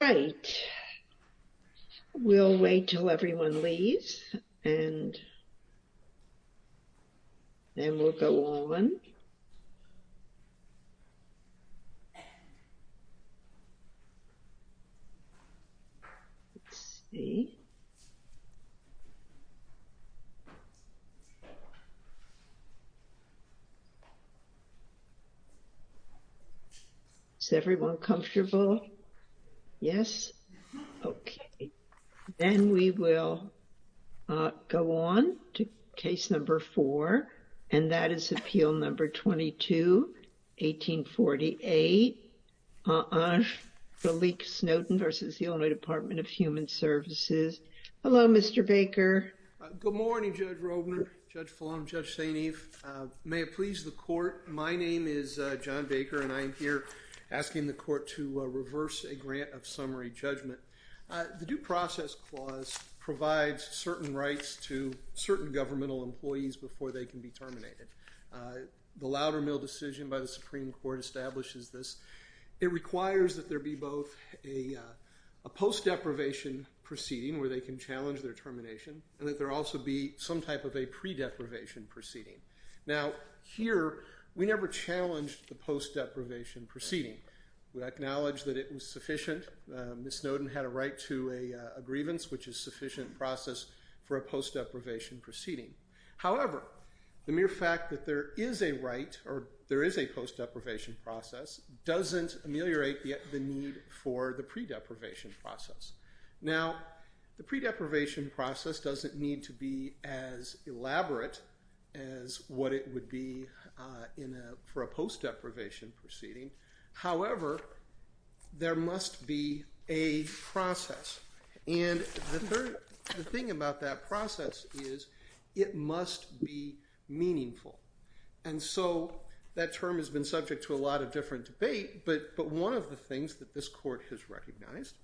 Right. We'll wait till everyone leaves. And then we'll go on. Let's see. Is everyone comfortable? Yes? Okay. Then we will go on to case number four, and that is Appeal No. 22, 1848, on Ange-Félix Snowden v. Illinois Department of Human Services. Hello, Mr. Baker. Good morning, Judge Robner, Judge Fallon, Judge St. Eve. May it please the Court, my name is John Baker, and I am here asking the Court to reverse a grant of summary judgment. The Due Process Clause provides certain rights to certain governmental employees before they can be terminated. The Loudermill decision by the Supreme Court establishes this. It requires that there be both a post-deprivation proceeding, where they can challenge their termination, and that there also be some type of a pre-deprivation proceeding. Now, here, we never challenged the post-deprivation proceeding. We acknowledged that it was sufficient. Ms. Snowden had a right to a grievance, which is sufficient process for a post-deprivation proceeding. However, the mere fact that there is a right, or there is a post-deprivation process, doesn't ameliorate the need for the pre-deprivation process. Now, the pre-deprivation process doesn't need to be as elaborate as what it would be in a, for a post-deprivation proceeding. However, there must be a process, and the thing about that process is it must be meaningful. And so, that term has been subject to a lot of different debate, but one of the things that this Court has recognized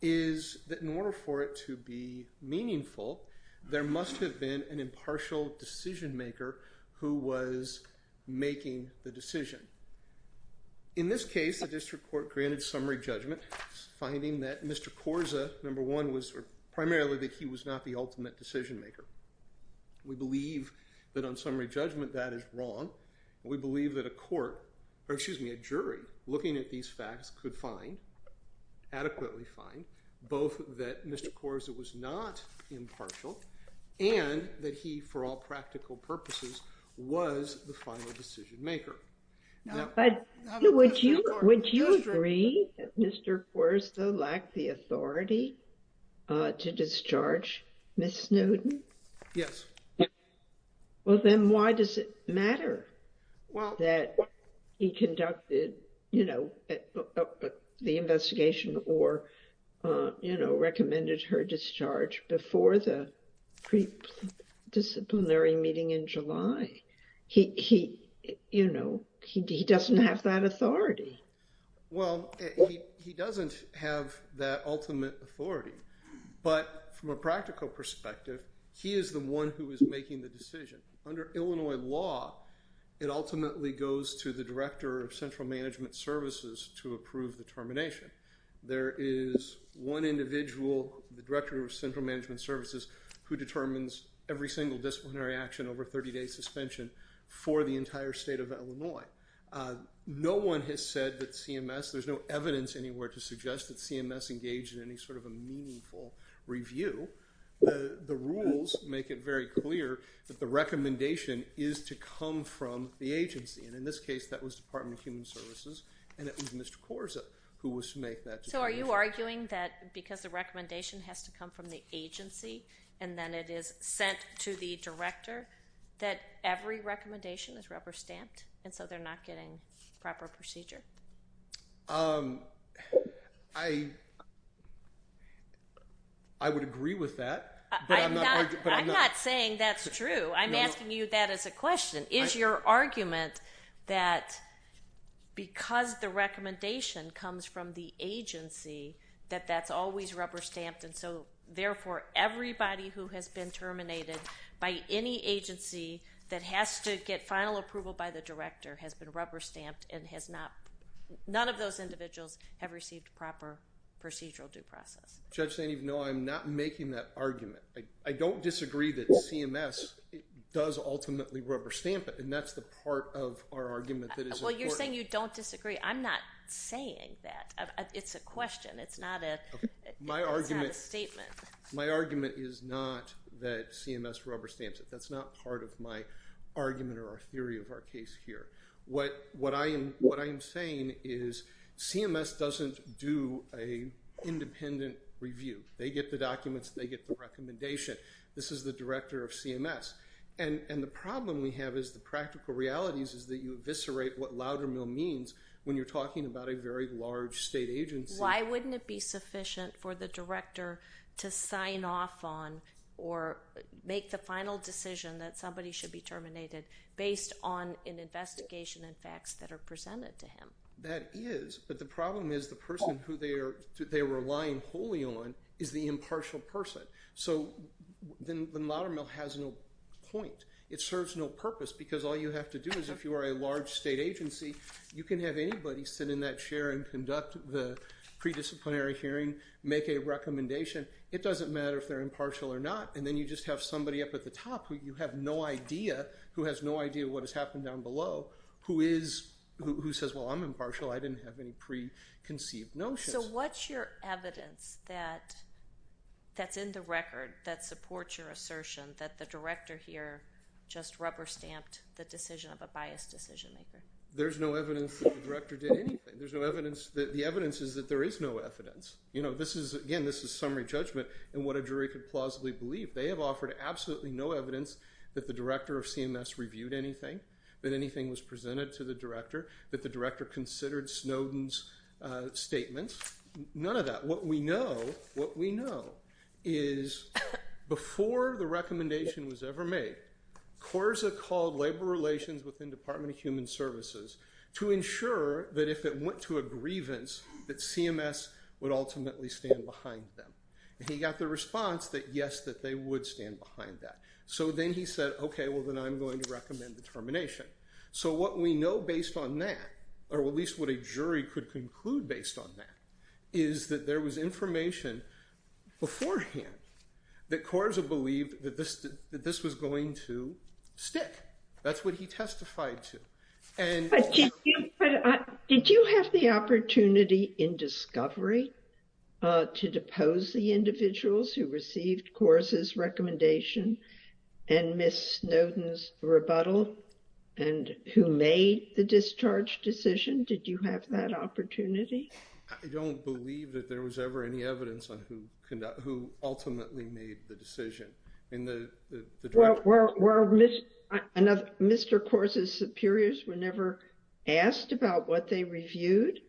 is that in order for it to be meaningful, there must have been an impartial decision-maker who was making the decision. In this case, the District Court granted summary judgment, finding that Mr. Korza, number one, was primarily that he was not the ultimate decision-maker. We believe that on summary judgment, that is wrong. We believe that a court, or excuse me, a jury, looking at these facts, could find, adequately find, both that Mr. Korza was not impartial, and that he, for all practical purposes, was the final decision-maker. But, would you agree that Mr. Korza lacked the authority to discharge Ms. Snowden? Yes. Well, then why does it matter that he conducted, you know, the investigation or, you know, recommended her discharge before the pre-disciplinary meeting in July? He, you know, he doesn't have that authority. Well, he doesn't have that ultimate authority, but from a practical perspective, he is the one who is making the decision. Under Illinois law, it ultimately goes to the Director of Central Management Services to approve the termination. There is one individual, the Director of Central Management Services, who determines every single disciplinary action over 30-day suspension for the entire state of Illinois. No one has said that CMS, there's no evidence anywhere to suggest that CMS engaged in any sort of a meaningful review. The rules make it very clear that the recommendation is to come from the agency, and in this case, that was Department of Human Services, and it was Mr. Korza who was to make that decision. So, are you arguing that because the recommendation has to come from the agency, and then it is sent to the Director, that every recommendation is rubber-stamped, and so they're not getting proper procedure? I would agree with that, but I'm not going to, but I'm not, I'm not saying that's true. I'm asking you that as a question. Is your argument that because the recommendation comes from the agency, that that's always rubber-stamped, and so, therefore, everybody who has been terminated by any agency that has to get final approval by the Director has been rubber-stamped and has not, none of those individuals have received proper procedural due process? Judge Zanove, no, I'm not making that argument. I don't disagree that CMS does ultimately rubber-stamp it, and that's the part of our argument that is important. Well, you're saying you don't disagree. I'm not saying that. It's a question. It's not a, it's not a statement. My argument is not that CMS rubber-stamps it. That's not part of my argument or our case here. What, what I am, what I am saying is CMS doesn't do a independent review. They get the documents. They get the recommendation. This is the Director of CMS, and the problem we have is the practical realities is that you eviscerate what Loudermill means when you're talking about a very large state agency. Why wouldn't it be sufficient for the Director to sign off on or make the final decision that somebody should be terminated based on an investigation and facts that are presented to him? That is, but the problem is the person who they are, they're relying wholly on is the impartial person. So then Loudermill has no point. It serves no purpose because all you have to do is if you are a large state agency, you can have anybody sit in that chair and conduct the pre-disciplinary hearing, make a recommendation. It doesn't matter if they're a large state agency, they have no idea, who has no idea what has happened down below, who is, who says, well, I'm impartial. I didn't have any preconceived notions. So what's your evidence that, that's in the record that supports your assertion that the Director here just rubber-stamped the decision of a biased decision maker? There's no evidence that the Director did anything. There's no evidence, the evidence is that there is no evidence. You know, this is, again, this is summary judgment in what the Director of CMS reviewed anything, that anything was presented to the Director, that the Director considered Snowden's statements. None of that. What we know, what we know is before the recommendation was ever made, CORSA called Labor Relations within Department of Human Services to ensure that if it went to a grievance, that CMS would ultimately stand behind them. He got the response that yes, that they would stand behind that. So then he said, okay, well, then I'm going to recommend the termination. So what we know based on that, or at least what a jury could conclude based on that, is that there was information beforehand that CORSA believed that this, that this was going to stick. That's what he testified to. Did you have the opportunity in discovery to depose the individuals who received CORSA's recommendation and Ms. Snowden's rebuttal, and who made the discharge decision? Did you have that opportunity? I don't believe that there was ever any evidence on who ultimately made the decision. Well, were Mr. CORSA's superiors were never asked about what they reviewed?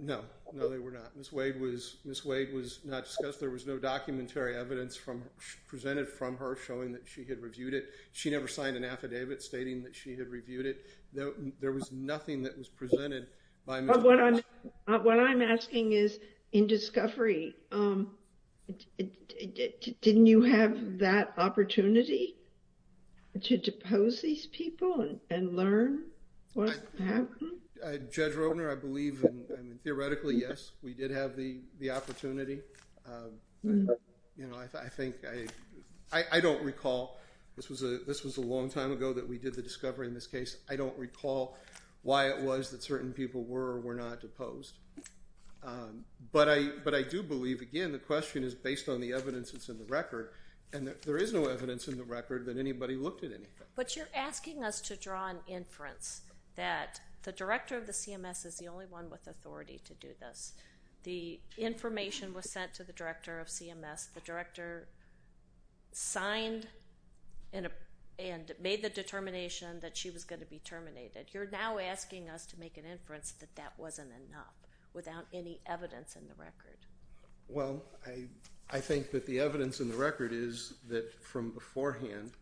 No, no, they were not. Ms. Wade was, Ms. Wade was not discussed. There was no documentary evidence from presented from her showing that she had reviewed it. She never signed an affidavit stating that she had reviewed it. There was nothing that was presented by Ms. Wade. What I'm, what I'm asking is in discovery, didn't you have that opportunity to depose these people and learn what happened? Judge Rotner, I believe, I mean, theoretically, yes, we did have the, the opportunity. You know, I think I, I don't recall, this was a, this was a long time ago that we did the discovery in this case. I don't recall why it was that certain people were or were not deposed. But I, but I do believe, again, the question is based on the evidence that's in the record, and there is no evidence in the record that anybody looked at anything. But you're asking us to draw an inference that the director of the CMS is the only one with authority to do this. The information was sent to the director of CMS. The director signed and, and made the determination that she was going to be terminated. You're now asking us to make an inference that that wasn't enough without any evidence in the record. Well, I, I think that the evidence in the record is that from beforehand,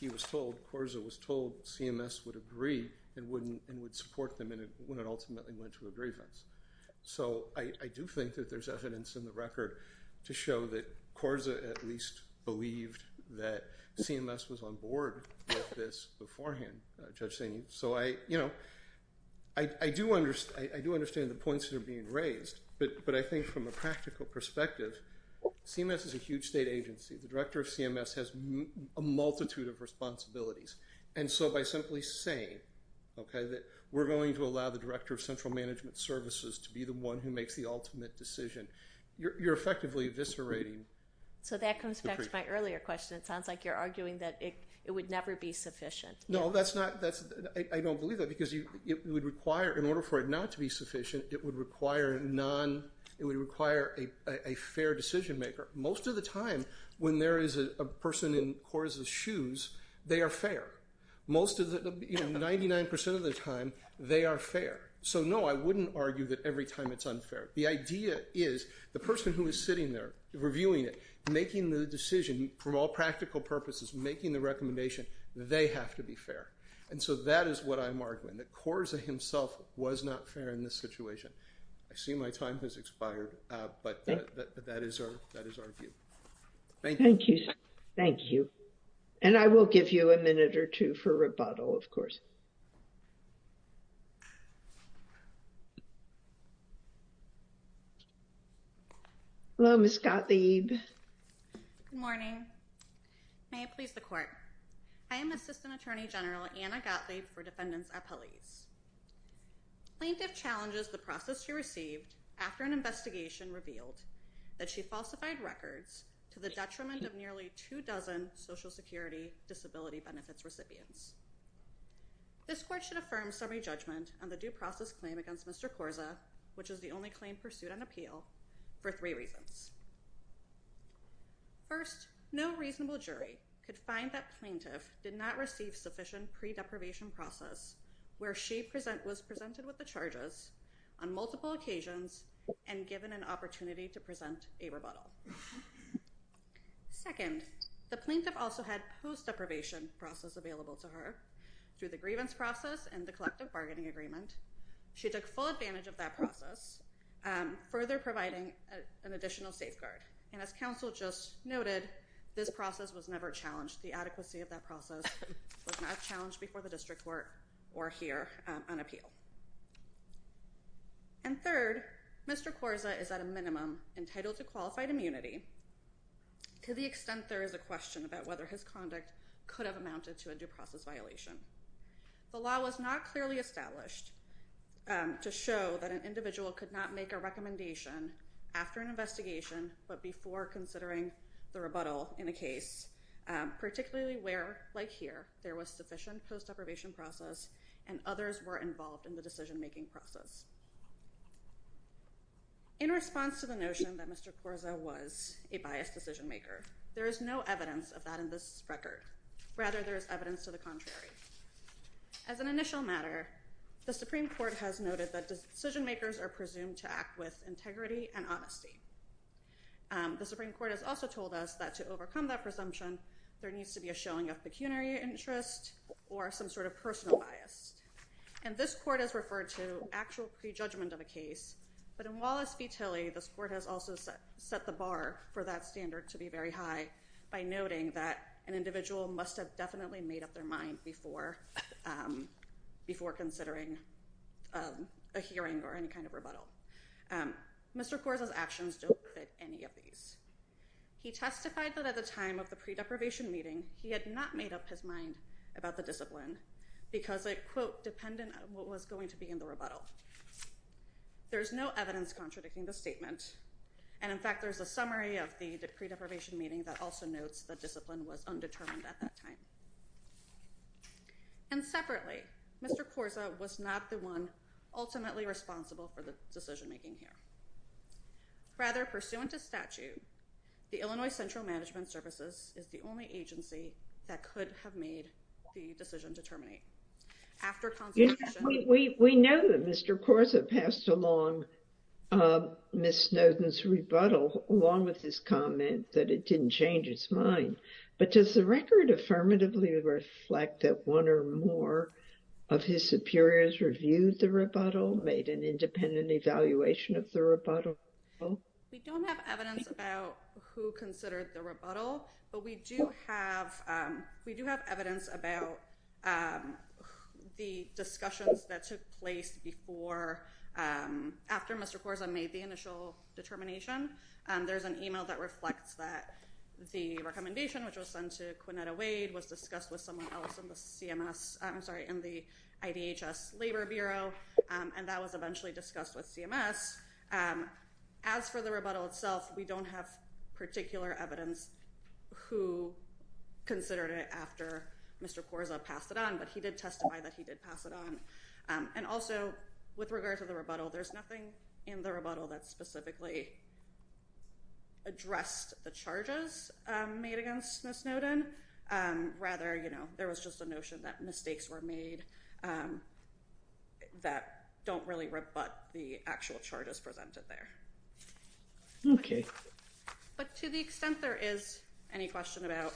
he was told, CORSA was told CMS would agree and wouldn't, and would support them when it ultimately went to a grievance. So I, I do think that there's evidence in the record to show that CORSA at least believed that CMS was on board with this beforehand, Judge Saini. So I, you know, I, I do understand, I do understand the points that are being raised, but, but I think from a practical perspective, CMS is a huge state agency. The we're going to allow the director of central management services to be the one who makes the ultimate decision. You're, you're effectively eviscerating. So that comes back to my earlier question. It sounds like you're arguing that it, it would never be sufficient. No, that's not, that's, I don't believe that because you, it would require, in order for it not to be sufficient, it would require non, it would require a, a fair decision maker. Most of the time when there is a person in CORSA's shoes, they are fair. Most of the, you know, 99% of the time they are fair. So no, I wouldn't argue that every time it's unfair. The idea is the person who is sitting there reviewing it, making the decision from all practical purposes, making the recommendation, they have to be fair. And so that is what I'm arguing, that CORSA himself was not fair in this And I will give you a minute or two for rebuttal, of course. Hello, Ms. Gottlieb. Good morning. May it please the court. I am assistant attorney general, Anna Gottlieb for defendants at police. Plaintiff challenges the process she received after an investigation revealed that she falsified records to the Social Security Disability Benefits recipients. This court should affirm summary judgment on the due process claim against Mr. CORSA, which is the only claim pursued on appeal for three reasons. First, no reasonable jury could find that plaintiff did not receive sufficient pre-deprivation process where she present was presented with the charges on multiple occasions and given an opportunity to present a rebuttal. Second, the plaintiff also had post-deprivation process available to her through the grievance process and the collective bargaining agreement. She took full advantage of that process, further providing an additional safeguard. And as counsel just noted, this process was never challenged. The adequacy of that process was not challenged before the district court or here on community to the extent there is a question about whether his conduct could have amounted to a due process violation. The law was not clearly established to show that an individual could not make a recommendation after an investigation but before considering the rebuttal in a case, particularly where, like here, there was sufficient post-deprivation process and others were involved in the decision-making process. In response to the notion that Mr. Corza was a biased decision-maker, there is no evidence of that in this record. Rather, there is evidence to the contrary. As an initial matter, the Supreme Court has noted that decision-makers are presumed to act with integrity and honesty. The Supreme Court has also told us that to overcome that presumption, there needs to be a showing of pecuniary interest or some sort of personal bias. And this court has referred to actual prejudgment of a case. But in Wallace v. Tilly, this court has also set the bar for that standard to be very high by noting that an individual must have definitely made up their mind before considering a hearing or any kind of rebuttal. Mr. Corza's actions don't fit any of these. He testified that at the time of the pre-deprivation meeting, he had not made up his mind about the discipline because it, quote, dependent on what was going to be in the rebuttal. There's no evidence contradicting the statement, and in fact, there's a summary of the pre-deprivation meeting that also notes the discipline was undetermined at that time. And separately, Mr. Corza was not the one ultimately responsible for the decision-making here. Rather, pursuant to statute, the Illinois Central Management Services is the only agency that could have made the decision to terminate. After consultation— We know that Mr. Corza passed along Ms. Snowden's rebuttal along with his comment that it didn't change his mind. But does the record affirmatively reflect that one or more of his superiors reviewed the rebuttal, made an independent evaluation of the rebuttal? We don't have evidence about who considered the rebuttal, but we do have—we do have evidence about the discussions that took place before—after Mr. Corza made the initial determination. There's an email that reflects that the recommendation, which was sent to Quinnetta Wade, was discussed with someone else in the CMS—I'm sorry, in the IDHS Labor Bureau, and that was eventually discussed with CMS. As for the rebuttal itself, we don't have particular evidence who considered it after Mr. Corza passed it on, but he did testify that he did pass it on. And also, with regard to the rebuttal, there's nothing in the rebuttal that specifically addressed the charges made against Ms. Snowden. Rather, you know, there was just a that don't really rebut the actual charges presented there. Okay. But to the extent there is any question about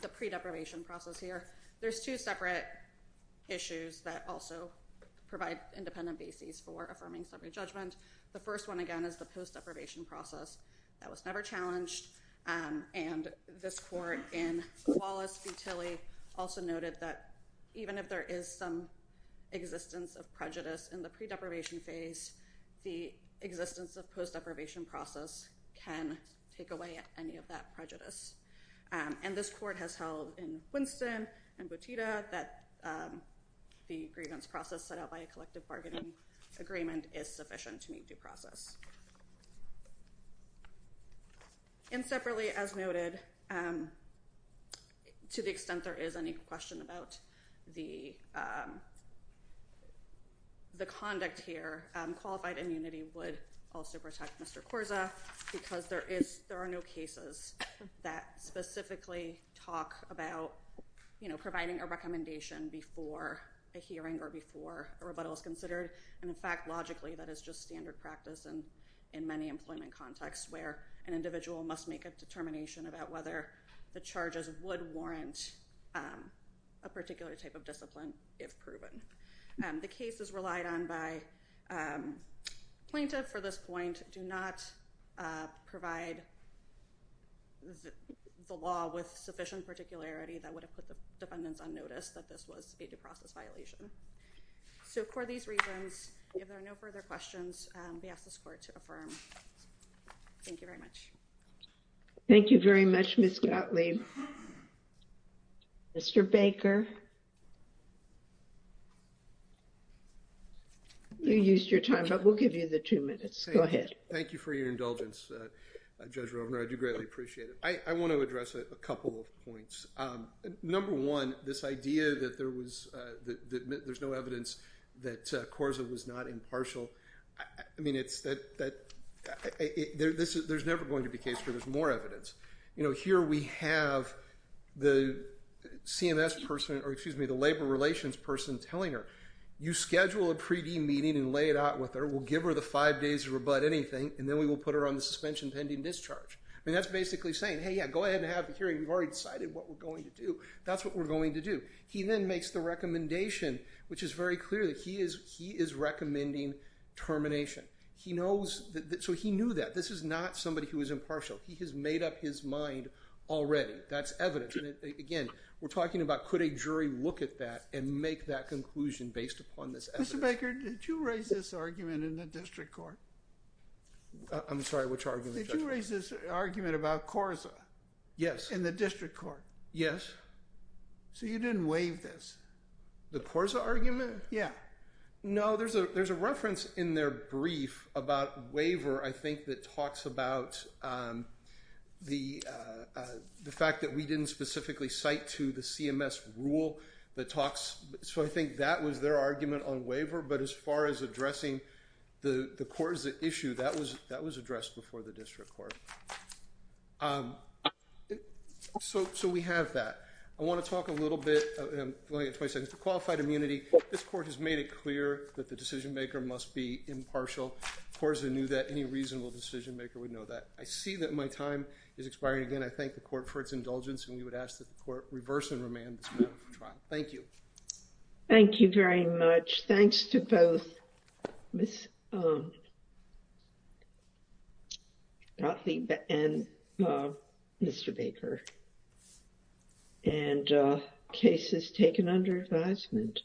the pre-deprivation process here, there's two separate issues that also provide independent bases for affirming summary judgment. The first one, again, is the post-deprivation process. That was never challenged, and this court in Wallace v. Tilly also noted that even if there is some existence of prejudice in the pre-deprivation phase, the existence of post-deprivation process can take away any of that prejudice. And this court has held in Winston and Boteta that the grievance process set out by a collective bargaining agreement is sufficient to meet due process. And separately, as noted, to the extent there is any question about the conduct here, qualified immunity would also protect Mr. Corza because there are no cases that specifically talk about, you know, providing a recommendation before a hearing or before a hearing in many employment contexts where an individual must make a determination about whether the charges would warrant a particular type of discipline if proven. The case is relied on by plaintiff for this point, do not provide the law with sufficient particularity that would have put the defendants on notice that this was a due process violation. So for these reasons, if there are no further questions, we ask this court to affirm. Thank you very much. Thank you very much, Ms. Gottlieb. Mr. Baker? You used your time, but we'll give you the two minutes. Go ahead. Thank you for your indulgence, Judge Rovner. I do greatly appreciate it. I want to address a couple of points. Number one, this idea that there was, that there's no evidence that Corza was not impartial. I mean, it's that there's never going to be case where there's more evidence. You know, here we have the CMS person, or excuse me, the labor relations person telling her, you schedule a pre-D meeting and lay it out with her. We'll give her the five days to rebut anything, and then we will put her on the suspension pending discharge. I mean, that's basically saying, hey, yeah, go ahead and have a hearing. We've already decided what we're going to do. That's what we're going to do. He then makes the recommendation, which is very clear he is recommending termination. He knows, so he knew that. This is not somebody who is impartial. He has made up his mind already. That's evidence. Again, we're talking about could a jury look at that and make that conclusion based upon this evidence. Mr. Baker, did you raise this argument in the district court? I'm sorry, which argument, Judge? Did you raise this argument about Corza? Yes. In the district court? Yes. So you didn't waive this? The Corza argument? Yeah. No, there's a reference in their brief about waiver, I think, that talks about the fact that we didn't specifically cite to the CMS rule that talks. So I think that was their argument on waiver, but as far as addressing the Corza issue, that was addressed before the immunity. This court has made it clear that the decision-maker must be impartial. Corza knew that any reasonable decision-maker would know that. I see that my time is expiring again. I thank the court for its indulgence, and we would ask that the court reverse and remand this matter for trial. Thank you. Thank you very much. Thanks to both Ms. Gottlieb and Mr. Baker. And case is taken under advisement.